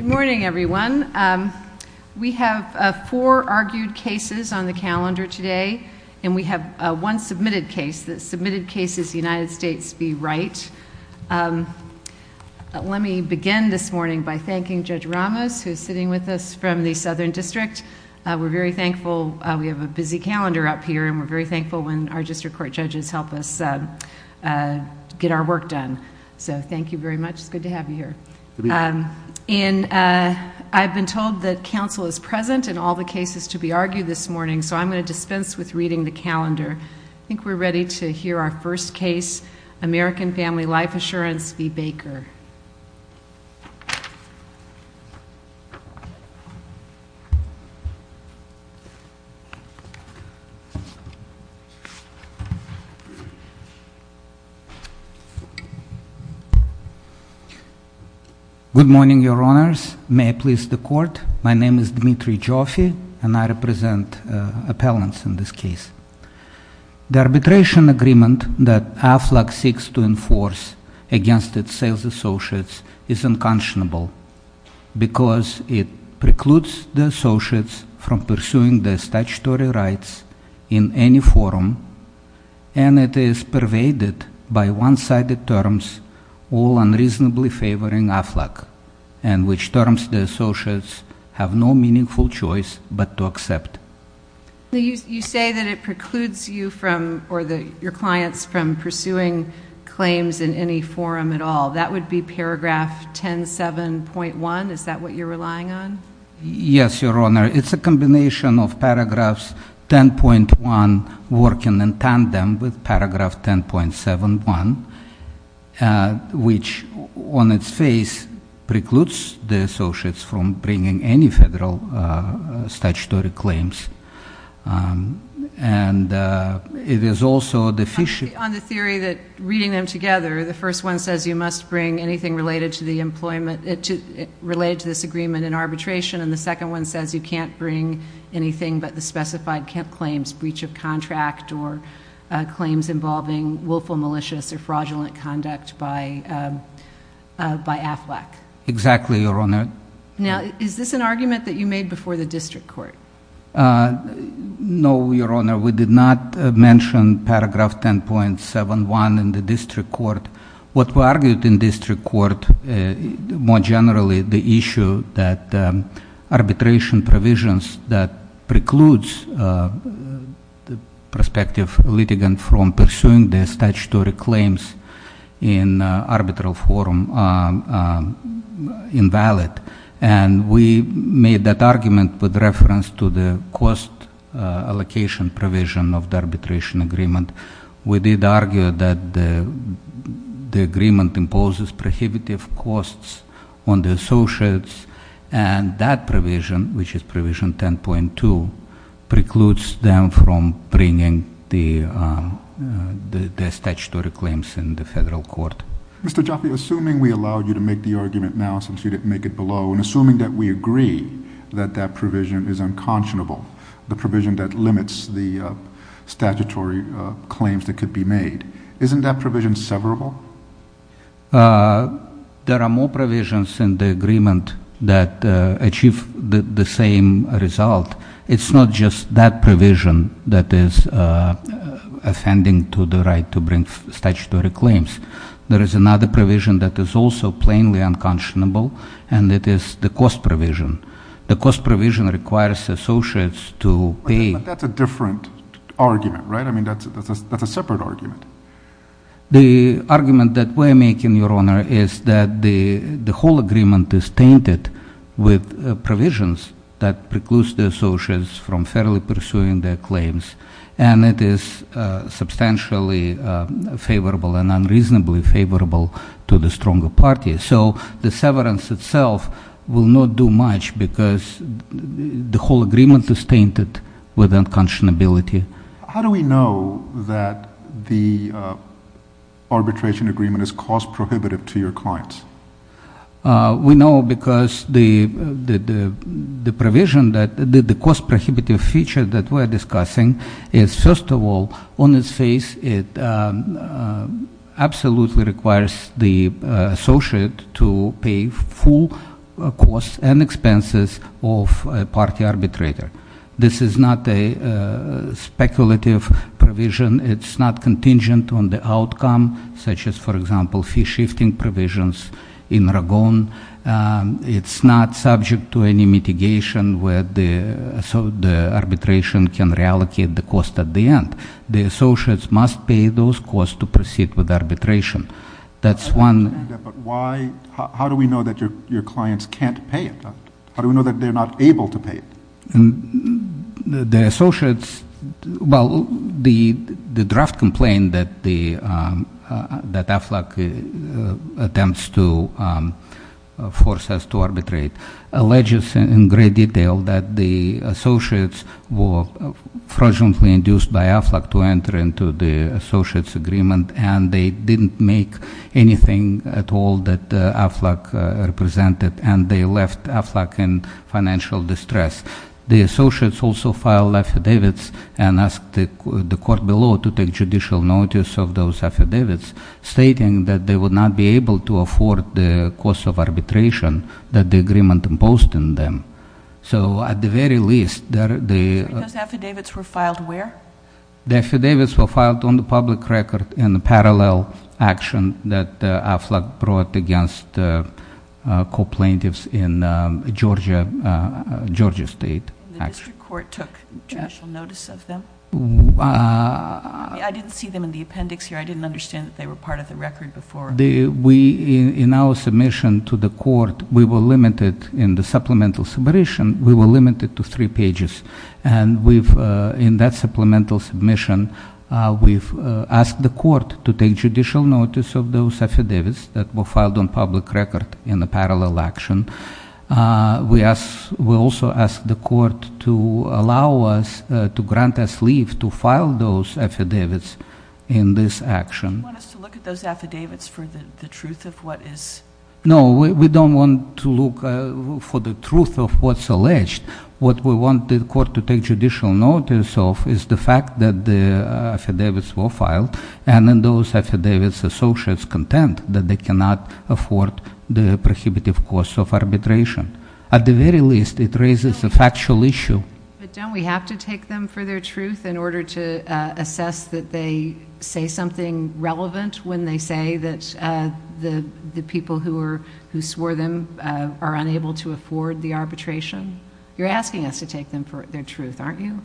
Good morning, everyone. We have four argued cases on the calendar today, and we have one submitted case. The submitted case is United States v. Wright. Let me begin this morning by thanking Judge Ramos, who is sitting with us from the Southern District. We're very thankful. We have a busy calendar up here, and we're very thankful when our district court judges help us get our work done. So thank you very much. It's good to have you here. I've been told that counsel is present in all the cases to be argued this morning, so I'm going to dispense with reading the calendar. I think we're ready to hear our first case, American Family Life Assurance v. Baker. Good morning, Your Honors. May I please the Court? My name is Dmitry Joffe, and I represent appellants in this case. The arbitration agreement that AFLAC seeks to enforce against its sales associates is unconscionable because it precludes the associates from pursuing their statutory rights in any forum, and it is pervaded by one-sided terms all unreasonably favoring AFLAC, and which terms the associates have no meaningful choice but to accept. You say that it precludes you or your clients from pursuing claims in any forum at all. That would be paragraph 107.1. Is that what you're relying on? Yes, Your Honor. It's a combination of paragraphs 10.1 working in tandem with paragraph 10.71, which on its face precludes the associates from bringing any federal statutory claims, and it is also deficient. On the theory that reading them together, the first one says you must bring anything related to the employment, related to this agreement in arbitration, and the second one says you can't bring anything but the specified Kemp claims, breach of contract or claims involving willful malicious or fraudulent conduct by AFLAC. Exactly, Your Honor. Now, is this an argument that you made before the district court? No, Your Honor. We did not mention paragraph 10.71 in the district court. What we argued in district court, more generally the issue that arbitration provisions that precludes the prospective litigant from pursuing their statutory claims in arbitral forum invalid, and we made that argument with reference to the cost allocation provision of the arbitration agreement. We did argue that the agreement imposes prohibitive costs on the associates, and that provision, which is provision 10.2, precludes them from bringing their statutory claims in the federal court. Mr. Jaffe, assuming we allowed you to make the argument now since you didn't make it below, and assuming that we agree that that provision is unconscionable, the provision that limits the statutory claims that could be made, isn't that provision severable? There are more provisions in the agreement that achieve the same result. It's not just that provision that is offending to the right to bring statutory claims. There is another provision that is also plainly unconscionable, and it is the cost provision. The cost provision requires associates to pay. But that's a different argument, right? I mean, that's a separate argument. The argument that we're making, Your Honor, is that the whole agreement is tainted with provisions that precludes the associates from fairly pursuing their claims, and it is substantially favorable and unreasonably favorable to the stronger party. So the severance itself will not do much because the whole agreement is tainted with unconscionability. How do we know that the arbitration agreement is cost prohibitive to your clients? We know because the provision that the cost prohibitive feature that we're discussing is first of all, on its face, it absolutely requires the associate to pay full costs and expenses of a party arbitrator. This is not a speculative provision. It's not contingent on the outcome, such as, for example, fee-shifting provisions in Ragon. It's not subject to any mitigation where the arbitration can reallocate the cost at the end. The associates must pay those costs to proceed with arbitration. That's one- I understand that, but how do we know that your clients can't pay it? How do we know that they're not able to pay it? The associates, well, the draft complaint that AFLAC attempts to force us to arbitrate, alleges in great detail that the associates were fraudulently induced by AFLAC to enter into the associates agreement, and they didn't make anything at all that AFLAC represented, and they left AFLAC in financial distress. The associates also filed affidavits and asked the court below to take judicial notice of those affidavits. Stating that they would not be able to afford the cost of arbitration that the agreement imposed on them. So at the very least, the- Those affidavits were filed where? The affidavits were filed on the public record in the parallel action that AFLAC brought against co-plaintiffs in Georgia State. And the district court took judicial notice of them? I didn't see them in the appendix here. I didn't understand that they were part of the record before. We, in our submission to the court, we were limited in the supplemental submission, we were limited to three pages. And in that supplemental submission, we've asked the court to take judicial notice of those affidavits that were filed on public record in the parallel action. We also asked the court to allow us, to grant us leave to file those affidavits in this action. You want us to look at those affidavits for the truth of what is? No, we don't want to look for the truth of what's alleged. What we want the court to take judicial notice of is the fact that the affidavits were filed. And in those affidavits, associates contend that they cannot afford the prohibitive cost of arbitration. At the very least, it raises a factual issue. But don't we have to take them for their truth in order to assess that they say something relevant when they say that the people who swore them are unable to afford the arbitration? You're asking us to take them for their truth, aren't you?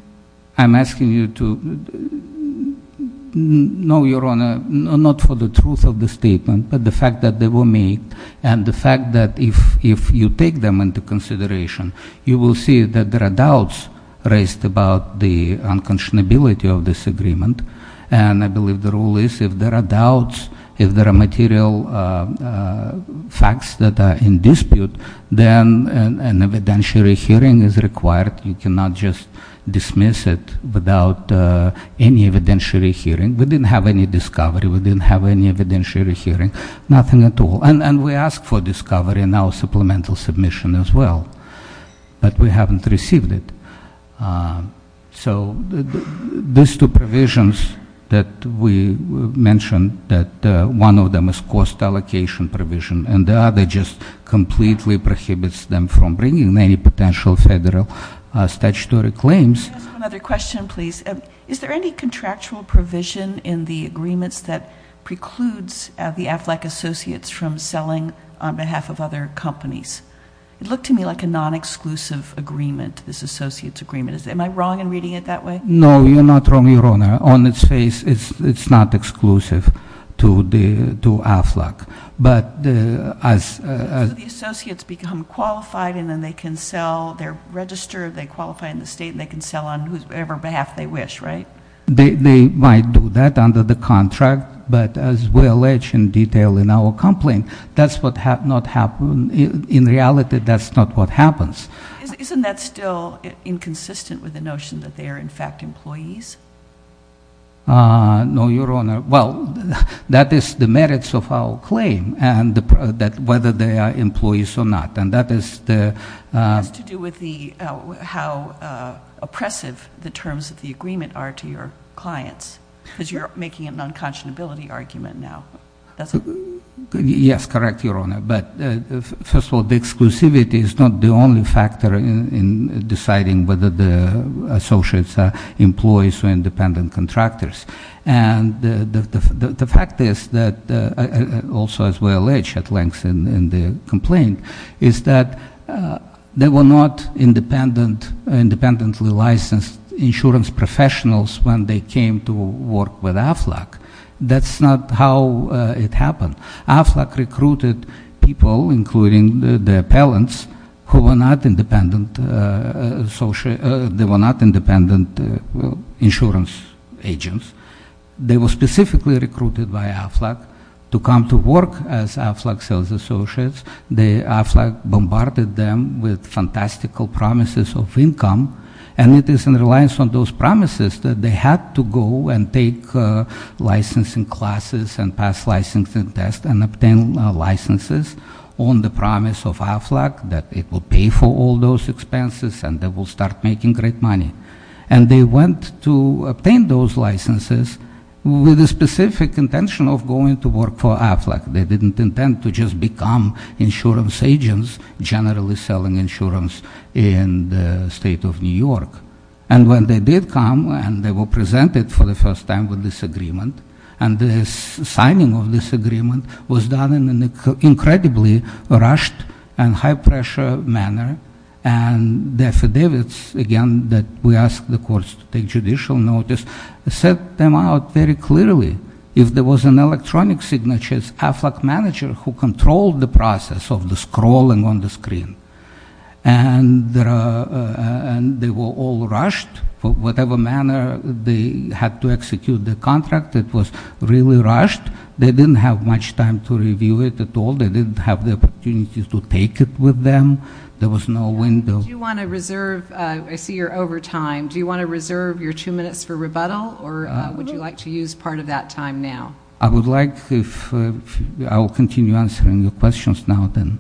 I'm asking you to, no, Your Honor, not for the truth of the statement, but the fact that they were made. And the fact that if you take them into consideration, you will see that there are doubts raised about the unconscionability of this agreement. And I believe the rule is, if there are doubts, if there are material facts that are in dispute, then an evidentiary hearing is required, you cannot just dismiss it without any evidentiary hearing. We didn't have any discovery, we didn't have any evidentiary hearing, nothing at all. And we asked for discovery and now supplemental submission as well, but we haven't received it. So these two provisions that we mentioned, that one of them is cost allocation provision, and the other just completely prohibits them from bringing any potential federal statutory claims. Can I ask one other question, please? Is there any contractual provision in the agreements that precludes the AFLAC associates from selling on behalf of other companies? It looked to me like a non-exclusive agreement, this associate's agreement. Am I wrong in reading it that way? No, you're not wrong, Your Honor. On its face, it's not exclusive to AFLAC. But as- So the associates become qualified and then they can sell, they're registered, they qualify in the state, and they can sell on whatever behalf they wish, right? They might do that under the contract, but as we allege in detail in our complaint, that's what not happen, in reality, that's not what happens. Isn't that still inconsistent with the notion that they are in fact employees? No, Your Honor. Well, that is the merits of our claim, and that whether they are employees or not, and that is the- It has to do with how oppressive the terms of the agreement are to your clients, because you're making a non-conscionability argument now. That's a- Yes, correct, Your Honor. But first of all, the exclusivity is not the only factor in deciding whether the associates are employees or independent contractors. And the fact is that, also as we allege at length in the complaint, is that they were not independently licensed insurance professionals when they came to work with AFLAC. That's not how it happened. AFLAC recruited people, including the appellants, who were not independent insurance agents. They were specifically recruited by AFLAC to come to work as AFLAC sales associates. AFLAC bombarded them with fantastical promises of income. And it is in reliance on those promises that they had to go and take licensing classes and pass licensing tests and obtain licenses on the promise of AFLAC that it will pay for all those expenses and they will start making great money. And they went to obtain those licenses with a specific intention of going to work for AFLAC. They didn't intend to just become insurance agents, generally selling insurance in the state of New York. And when they did come, and they were presented for the first time with this agreement, and the signing of this agreement was done in an incredibly rushed and high pressure manner. And the affidavits, again, that we asked the courts to take judicial notice, set them out very clearly. If there was an electronic signature, it's AFLAC manager who controlled the process of the scrolling on the screen. And they were all rushed, for whatever manner they had to execute the contract. It was really rushed. They didn't have much time to review it at all. They didn't have the opportunity to take it with them. There was no window. Do you want to reserve, I see you're over time. Do you want to reserve your two minutes for rebuttal? Or would you like to use part of that time now? I would like if, I will continue answering your questions now then.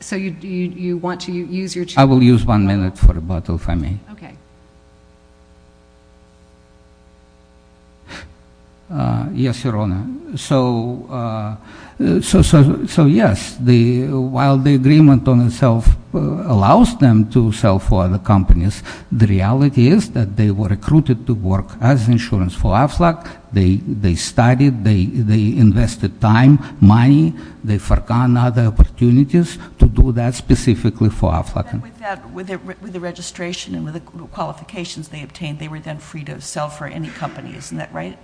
So you want to use your two minutes? I will use one minute for rebuttal if I may. Okay. Yes, Your Honor. So yes, while the agreement on itself allows them to sell for other companies, the reality is that they were recruited to work as insurance for AFLAC. They studied, they invested time, money, they forgot other opportunities to do that specifically for AFLAC. And with that, with the registration and with the qualifications they obtained, they were then free to sell for any company, isn't that right?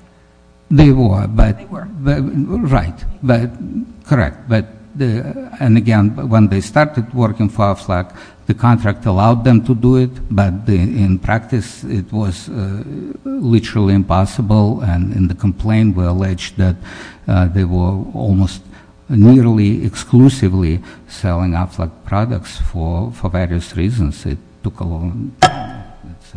They were. They were. Right. And again, when they started working for AFLAC, the contract allowed them to do it. But in practice, it was literally impossible. And in the complaint, we're alleged that they were almost nearly exclusively selling AFLAC products for various reasons. It took a long time. It's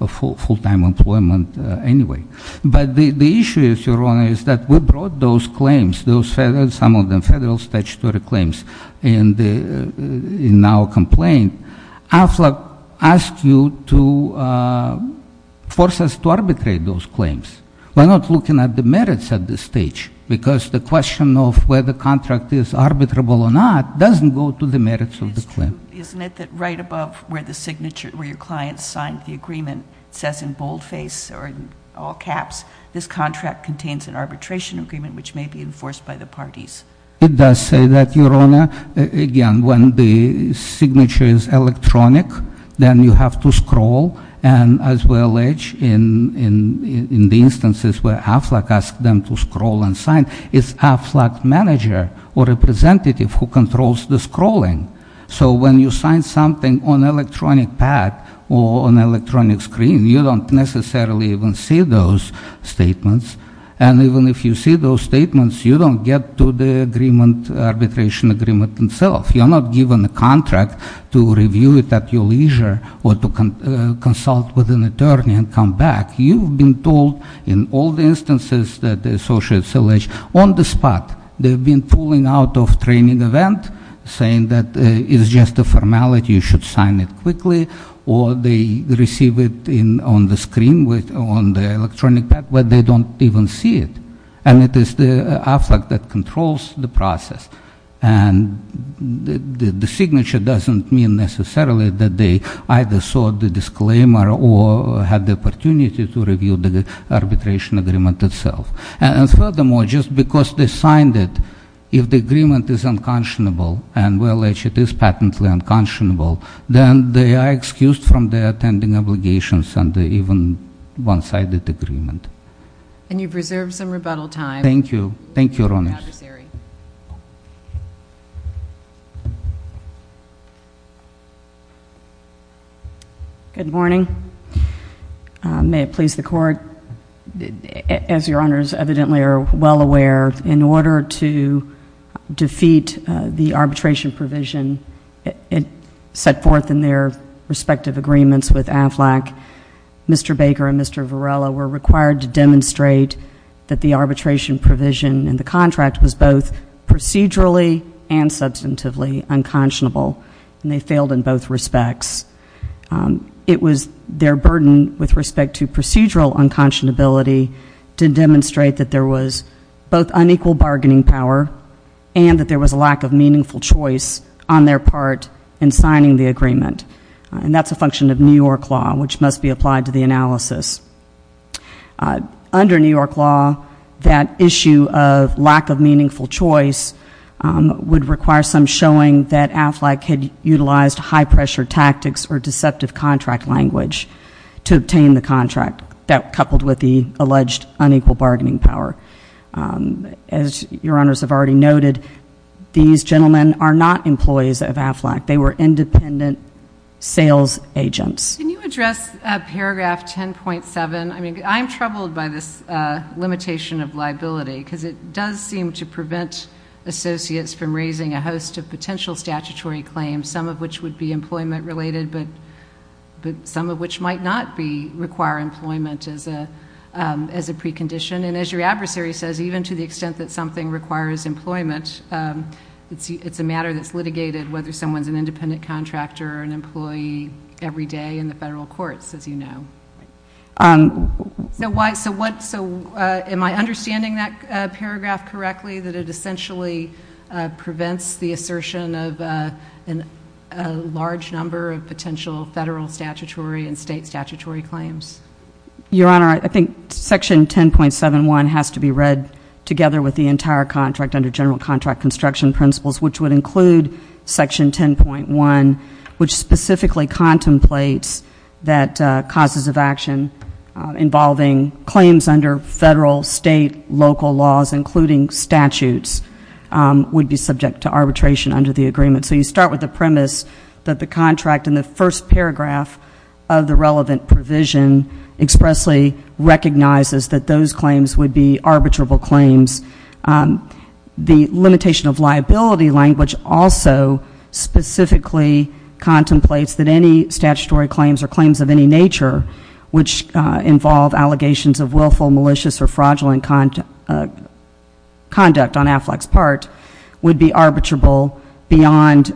a full-time employment anyway. But the issue is, Your Honor, is that we brought those claims, some of them federal statutory claims in our complaint. AFLAC asked you to force us to arbitrate those claims. We're not looking at the merits at this stage. Because the question of whether the contract is arbitrable or not doesn't go to the merits of the claim. Isn't it that right above where the signature, where your client signed the agreement, says in boldface or in all caps, this contract contains an arbitration agreement which may be enforced by the parties? It does say that, Your Honor. And as we allege in the instances where AFLAC asked them to scroll and sign, it's AFLAC manager or representative who controls the scrolling. So when you sign something on electronic pad or on electronic screen, you don't necessarily even see those statements. And even if you see those statements, you don't get to the arbitration agreement itself. You're not given the contract to review it at your leisure or consult with an attorney and come back. You've been told in all the instances that the associates alleged on the spot. They've been pulling out of training event, saying that it's just a formality, you should sign it quickly. Or they receive it on the screen, on the electronic pad, where they don't even see it. And it is the AFLAC that controls the process. And the signature doesn't mean necessarily that they either saw the disclaimer or had the opportunity to review the arbitration agreement itself. And furthermore, just because they signed it, if the agreement is unconscionable, and we allege it is patently unconscionable, then they are excused from their attending obligations under even one-sided agreement. And you've reserved some rebuttal time. Thank you. Thank you, Your Honor. Thank you, Mr. Adversary. Good morning. May it please the court, as your honors evidently are well aware, in order to defeat the arbitration provision set forth in their respective agreements with AFLAC. Mr. Baker and Mr. Varela were required to demonstrate that the arbitration provision in the contract was both procedurally and substantively unconscionable, and they failed in both respects. It was their burden with respect to procedural unconscionability to demonstrate that there was both unequal bargaining power and that there was a lack of meaningful choice on their part in signing the agreement. And that's a function of New York law, which must be applied to the analysis. Under New York law, that issue of lack of meaningful choice would require some showing that AFLAC had utilized high pressure tactics or deceptive contract language to obtain the contract that coupled with the alleged unequal bargaining power. As your honors have already noted, these gentlemen are not employees of AFLAC. They were independent sales agents. Can you address paragraph 10.7? I mean, I'm troubled by this limitation of liability because it does seem to prevent associates from raising a host of potential statutory claims, some of which would be employment related, but some of which might not require employment as a precondition. And as your adversary says, even to the extent that something requires employment, it's a matter that's litigated whether someone's an independent contractor or an employee every day in the federal courts, as you know. So why, so what, so am I understanding that paragraph correctly, that it essentially prevents the assertion of a large number of potential federal statutory and state statutory claims? Your honor, I think section 10.71 has to be read together with the entire contract under general contract construction principles, which would include section 10.1, which specifically contemplates that causes of action involving claims under federal, state, local laws, including statutes, would be subject to arbitration under the agreement. So you start with the premise that the contract in the first paragraph of the relevant provision expressly recognizes that those claims would be arbitrable claims. The limitation of liability language also specifically contemplates that any statutory claims or claims of any nature, which involve allegations of willful, malicious, or fraudulent conduct on AFLAC's part, would be arbitrable beyond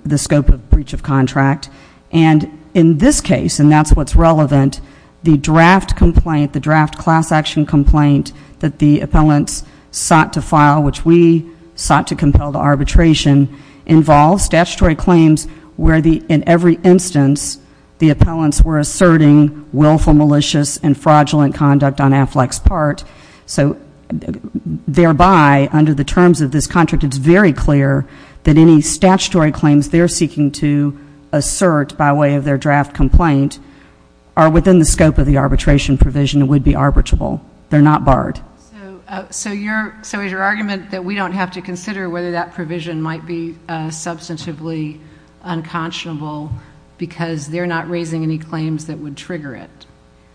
the scope of breach of contract. And in this case, and that's what's relevant, the draft complaint, the draft class action complaint that the appellants sought to file, which we sought to compel to arbitration, involves statutory claims where the, in every instance, the appellants were asserting willful, malicious, and fraudulent conduct on AFLAC's part. So thereby, under the terms of this contract, it's very clear that any statutory claims they're seeking to assert by way of their draft complaint are within the scope of the arbitration provision and would be arbitrable. They're not barred. So your argument that we don't have to consider whether that provision might be substantively unconscionable because they're not raising any claims that would trigger it.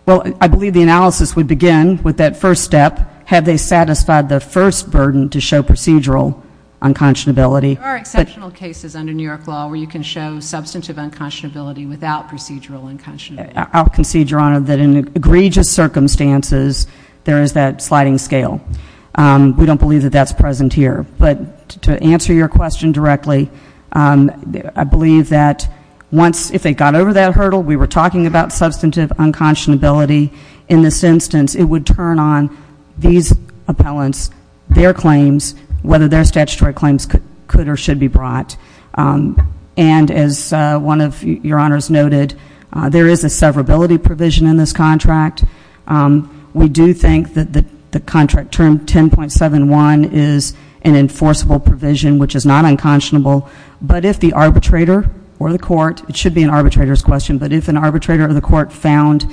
Well, I believe the analysis would begin with that first step. Have they satisfied the first burden to show procedural unconscionability? There are exceptional cases under New York law where you can show substantive unconscionability without procedural unconscionability. I'll concede, Your Honor, that in egregious circumstances, there is that sliding scale. We don't believe that that's present here. But to answer your question directly, I believe that once, if they got over that hurdle, we were talking about substantive unconscionability. In this instance, it would turn on these appellants, their claims, whether their statutory claims could or should be brought. And as one of your honors noted, there is a severability provision in this contract. We do think that the contract term 10.71 is an enforceable provision, which is not unconscionable. But if the arbitrator or the court, it should be an arbitrator's question, but if an arbitrator or the court found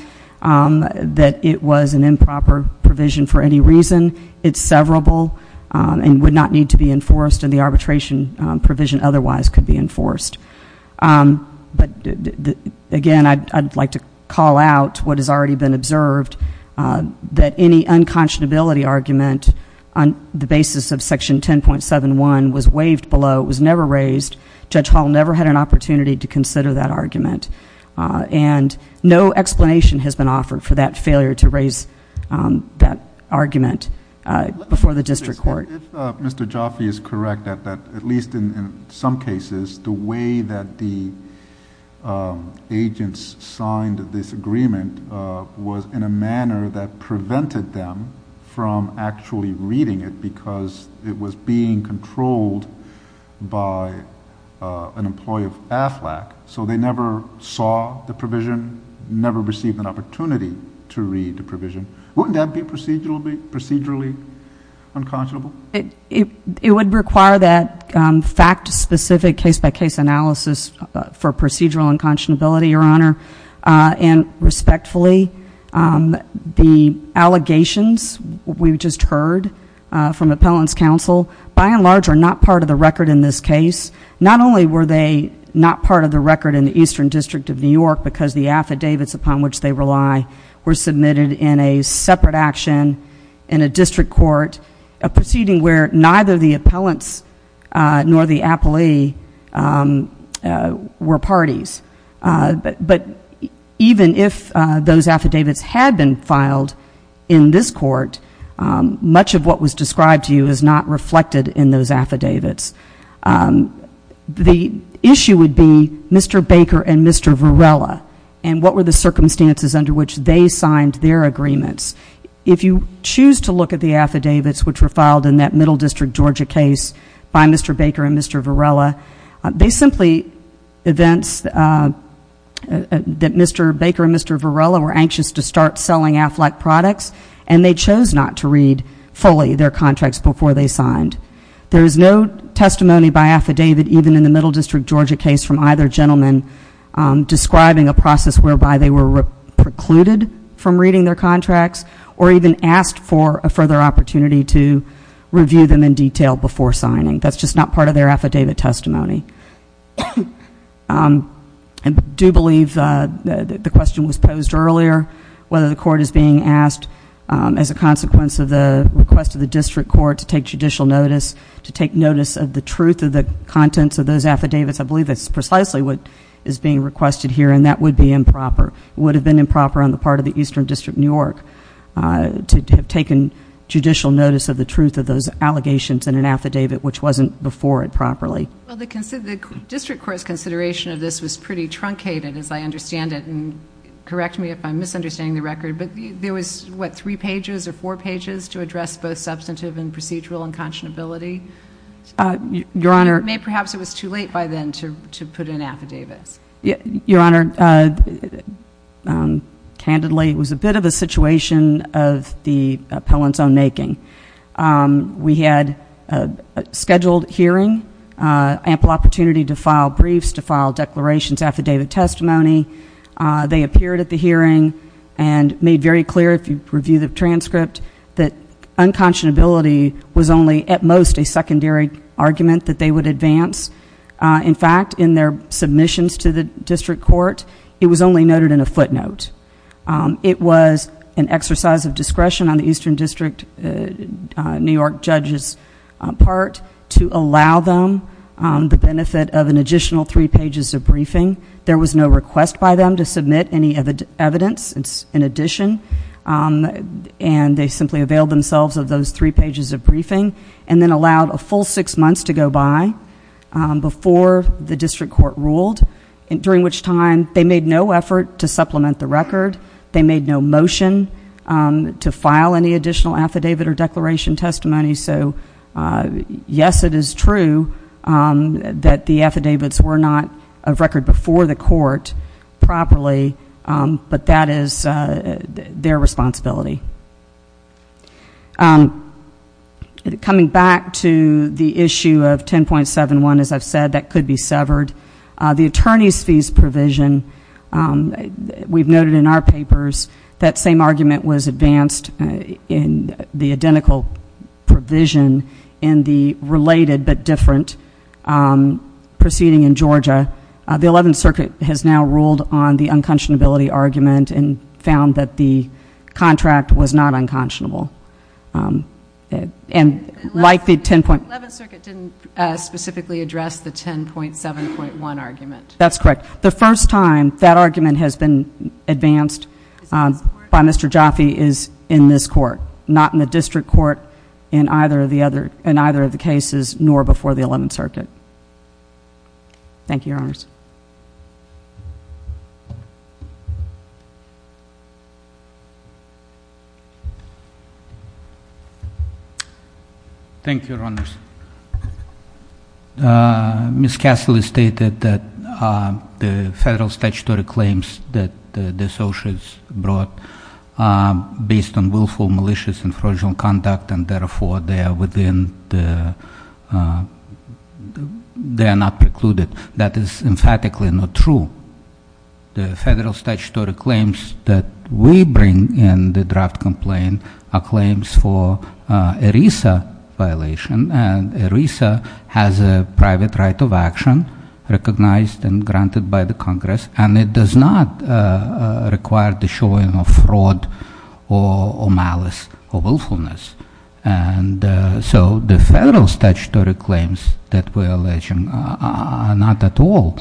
that it was an improper provision for any reason, it's severable and would not need to be enforced, and the arbitration provision otherwise could be enforced. But again, I'd like to call out what has already been observed, that any unconscionability argument on the basis of section 10.71 was waived below. It was never raised. Judge Hall never had an opportunity to consider that argument. And no explanation has been offered for that failure to raise that argument before the district court. If Mr. Jaffe is correct, at least in some cases, the way that the agents signed this agreement was in a manner that prevented them from actually reading it, because it was being controlled by an employee of Aflac. So they never saw the provision, never received an opportunity to read the provision. Wouldn't that be procedurally unconscionable? It would require that fact specific case by case analysis for procedural unconscionability, your honor. And respectfully, the allegations we've just heard from appellant's counsel, by and large, are not part of the record in this case. Not only were they not part of the record in the Eastern District of New York, because the affidavits upon which they rely were submitted in a separate action in a district court, a proceeding where neither the appellants nor the appellee were parties. But even if those affidavits had been filed in this court, much of what was described to you is not reflected in those affidavits. The issue would be Mr. Baker and Mr. Varela, and what were the circumstances under which they signed their agreements. If you choose to look at the affidavits which were filed in that Middle District, Georgia case by Mr. Baker and Mr. Varela. They simply events that Mr. Baker and Mr. Varela were anxious to start selling Aflac products. And they chose not to read fully their contracts before they signed. There is no testimony by affidavit even in the Middle District, Georgia case from either gentleman describing a process whereby they were precluded from reading their contracts or even asked for a further opportunity to review them in detail before signing. That's just not part of their affidavit testimony. I do believe the question was posed earlier, whether the court is being asked as a consequence of the request of the district court to take judicial notice. To take notice of the truth of the contents of those affidavits. I believe that's precisely what is being requested here, and that would be improper. It would have been improper on the part of the Eastern District of New York to have taken judicial notice of the truth of those allegations in an affidavit which wasn't before it properly. Well, the district court's consideration of this was pretty truncated as I understand it. And correct me if I'm misunderstanding the record, but there was what, three pages or four pages to address both substantive and procedural unconscionability? Your Honor- Perhaps it was too late by then to put in affidavits. Your Honor, candidly, it was a bit of a situation of the appellant's own making. We had a scheduled hearing, ample opportunity to file briefs, to file declarations, affidavit testimony. They appeared at the hearing and made very clear, if you review the transcript, that unconscionability was only, at most, a secondary argument that they would advance. In fact, in their submissions to the district court, it was only noted in a footnote. It was an exercise of discretion on the Eastern District New York judge's part to allow them the benefit of an additional three pages of briefing. There was no request by them to submit any evidence in addition. And they simply availed themselves of those three pages of briefing, and then allowed a full six months to go by before the district court ruled. During which time, they made no effort to supplement the record. They made no motion to file any additional affidavit or declaration testimony. So, yes, it is true that the affidavits were not of record before the court properly. But that is their responsibility. Coming back to the issue of 10.71, as I've said, that could be severed. The attorney's fees provision, we've noted in our papers, that same argument was advanced in the identical provision in the related but different proceeding in Georgia. The 11th Circuit has now ruled on the unconscionability argument and found that the contract was not unconscionable. And like the 10 point- The 11th Circuit didn't specifically address the 10.7.1 argument. That's correct. The first time that argument has been advanced by Mr. Jaffe is in this court. Not in the district court, in either of the cases, nor before the 11th Circuit. Thank you, your honors. Thank you, your honors. Ms. Cassily stated that the federal statutory claims that the associates brought based on willful, malicious, and fraudulent conduct, and therefore, they are within the, they are not precluded. That is emphatically not true. The federal statutory claims that we bring in the draft complaint are claims for ERISA violation, and ERISA has a private right of action recognized and granted by the Congress, and it does not require the showing of fraud or malice or willfulness. And so the federal statutory claims that we're alleging are not at all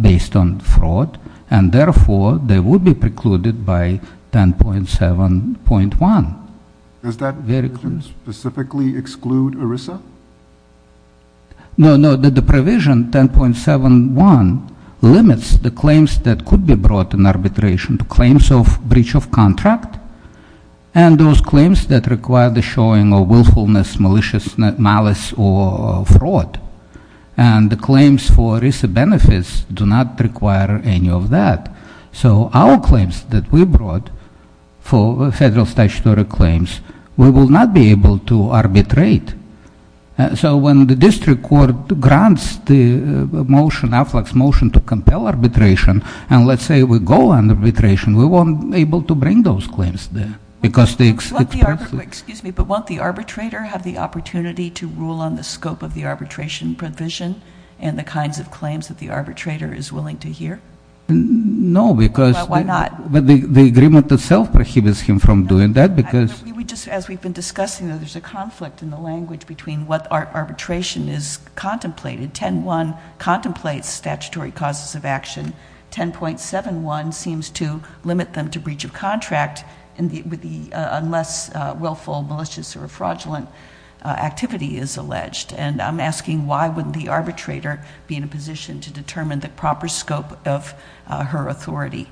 based on fraud, and therefore, they would be precluded by 10.7.1. Does that specifically exclude ERISA? No, no, the provision 10.71 limits the claims that could be brought in arbitration to claims of breach of contract. And those claims that require the showing of willfulness, maliciousness, malice, or fraud. And the claims for ERISA benefits do not require any of that. So our claims that we brought for federal statutory claims, we will not be able to arbitrate. So when the district court grants the motion, AFLAC's motion to compel arbitration, and let's say we go on arbitration, we won't be able to bring those claims there. Because they- Excuse me, but won't the arbitrator have the opportunity to rule on the scope of the arbitration provision? And the kinds of claims that the arbitrator is willing to hear? No, because- Why not? But the agreement itself prohibits him from doing that, because- As we've been discussing, there's a conflict in the language between what arbitration is contemplated. 10.1 contemplates statutory causes of action. 10.71 seems to limit them to breach of contract unless willful, malicious, or fraudulent activity is alleged. And I'm asking why would the arbitrator be in a position to determine the proper scope of her authority?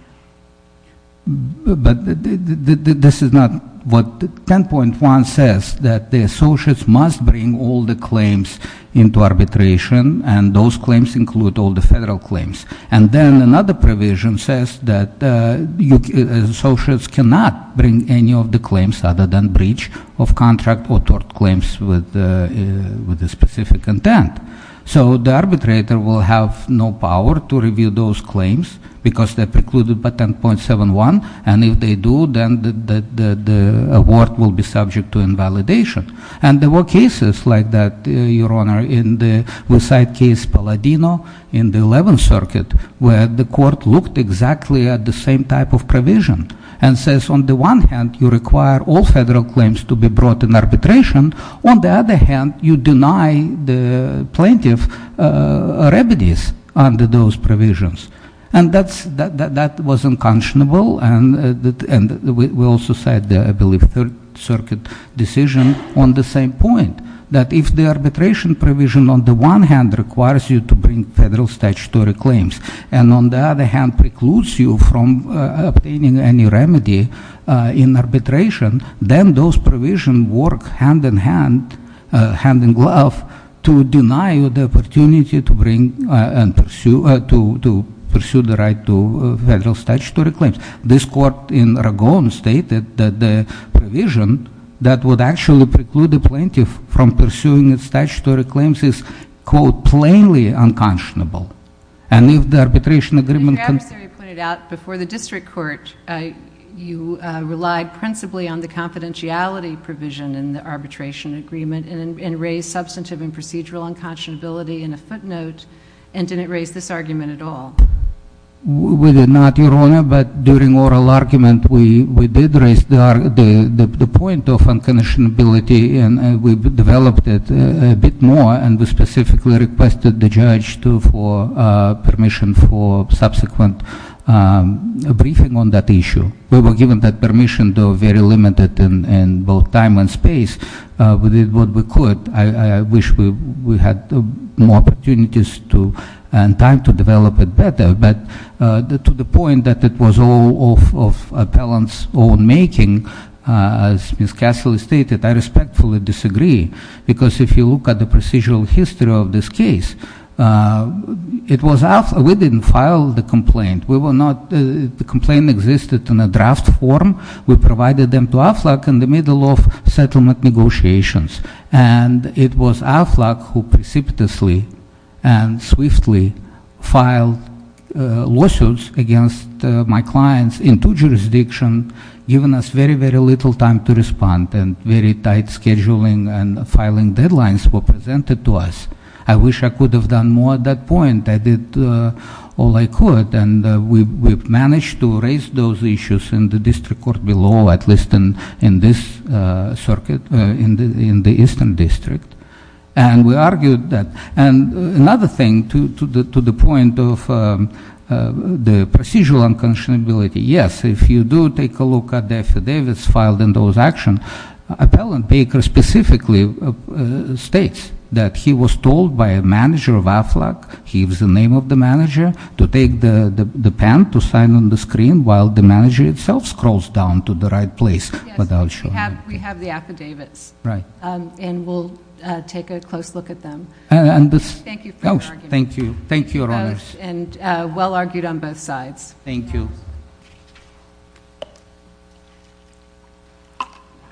But this is not what 10.1 says, that the associates must bring all the claims into arbitration, and those claims include all the federal claims. And then another provision says that associates cannot bring any of the claims other than breach of contract or tort claims with a specific intent. So the arbitrator will have no power to review those claims, because they're precluded by 10.71. And if they do, then the award will be subject to invalidation. And there were cases like that, Your Honor, in the West Side case Palladino in the 11th Circuit, where the court looked exactly at the same type of provision and says, on the one hand, you require all federal claims to be brought in arbitration. On the other hand, you deny the plaintiff remedies under those provisions. And that was unconscionable. And we also said, I believe, the Third Circuit decision on the same point. That if the arbitration provision on the one hand requires you to bring federal statutory claims, and on the other hand precludes you from obtaining any remedy in arbitration, then those provisions work hand in hand, hand in glove, to deny you the opportunity to pursue the right to federal statutory claims. This court in Ragon stated that the provision that would actually preclude the plaintiff from pursuing its statutory claims is, quote, plainly unconscionable. And if the arbitration agreement- Your adversary pointed out before the district court, you relied principally on the confidentiality provision in the arbitration agreement, and raised substantive and procedural unconscionability in a footnote, and didn't raise this argument at all. We did not, Your Honor, but during oral argument, we did raise the point of unconscionability, and we developed it a bit more, and we specifically requested the judge for permission for subsequent briefing on that issue. We were given that permission, though very limited in both time and space. We did what we could. I wish we had more opportunities and time to develop it better. But to the point that it was all of appellant's own making, as Ms. Cassily stated, I respectfully disagree. Because if you look at the procedural history of this case, we didn't file the complaint. We were not, the complaint existed in a draft form. We provided them to AFLAC in the middle of settlement negotiations. And it was AFLAC who precipitously and swiftly filed lawsuits against my clients in two jurisdictions, given us very, very little time to respond, and very tight scheduling and filing deadlines were presented to us. I wish I could have done more at that point. I did all I could, and we've managed to raise those issues in the district court below, at least in this circuit, in the eastern district. And we argued that, and another thing to the point of the procedural unconscionability. Yes, if you do take a look at the affidavits filed in those actions, appellant Baker specifically states that he was told by a manager of AFLAC, he was the name of the manager, to take the pen to sign on the screen while the manager itself scrolls down to the right place, but I'll show you. We have the affidavits. Right. And we'll take a close look at them. And this- Thank you for your argument. Thank you. Thank you, your honors. And well argued on both sides. Thank you.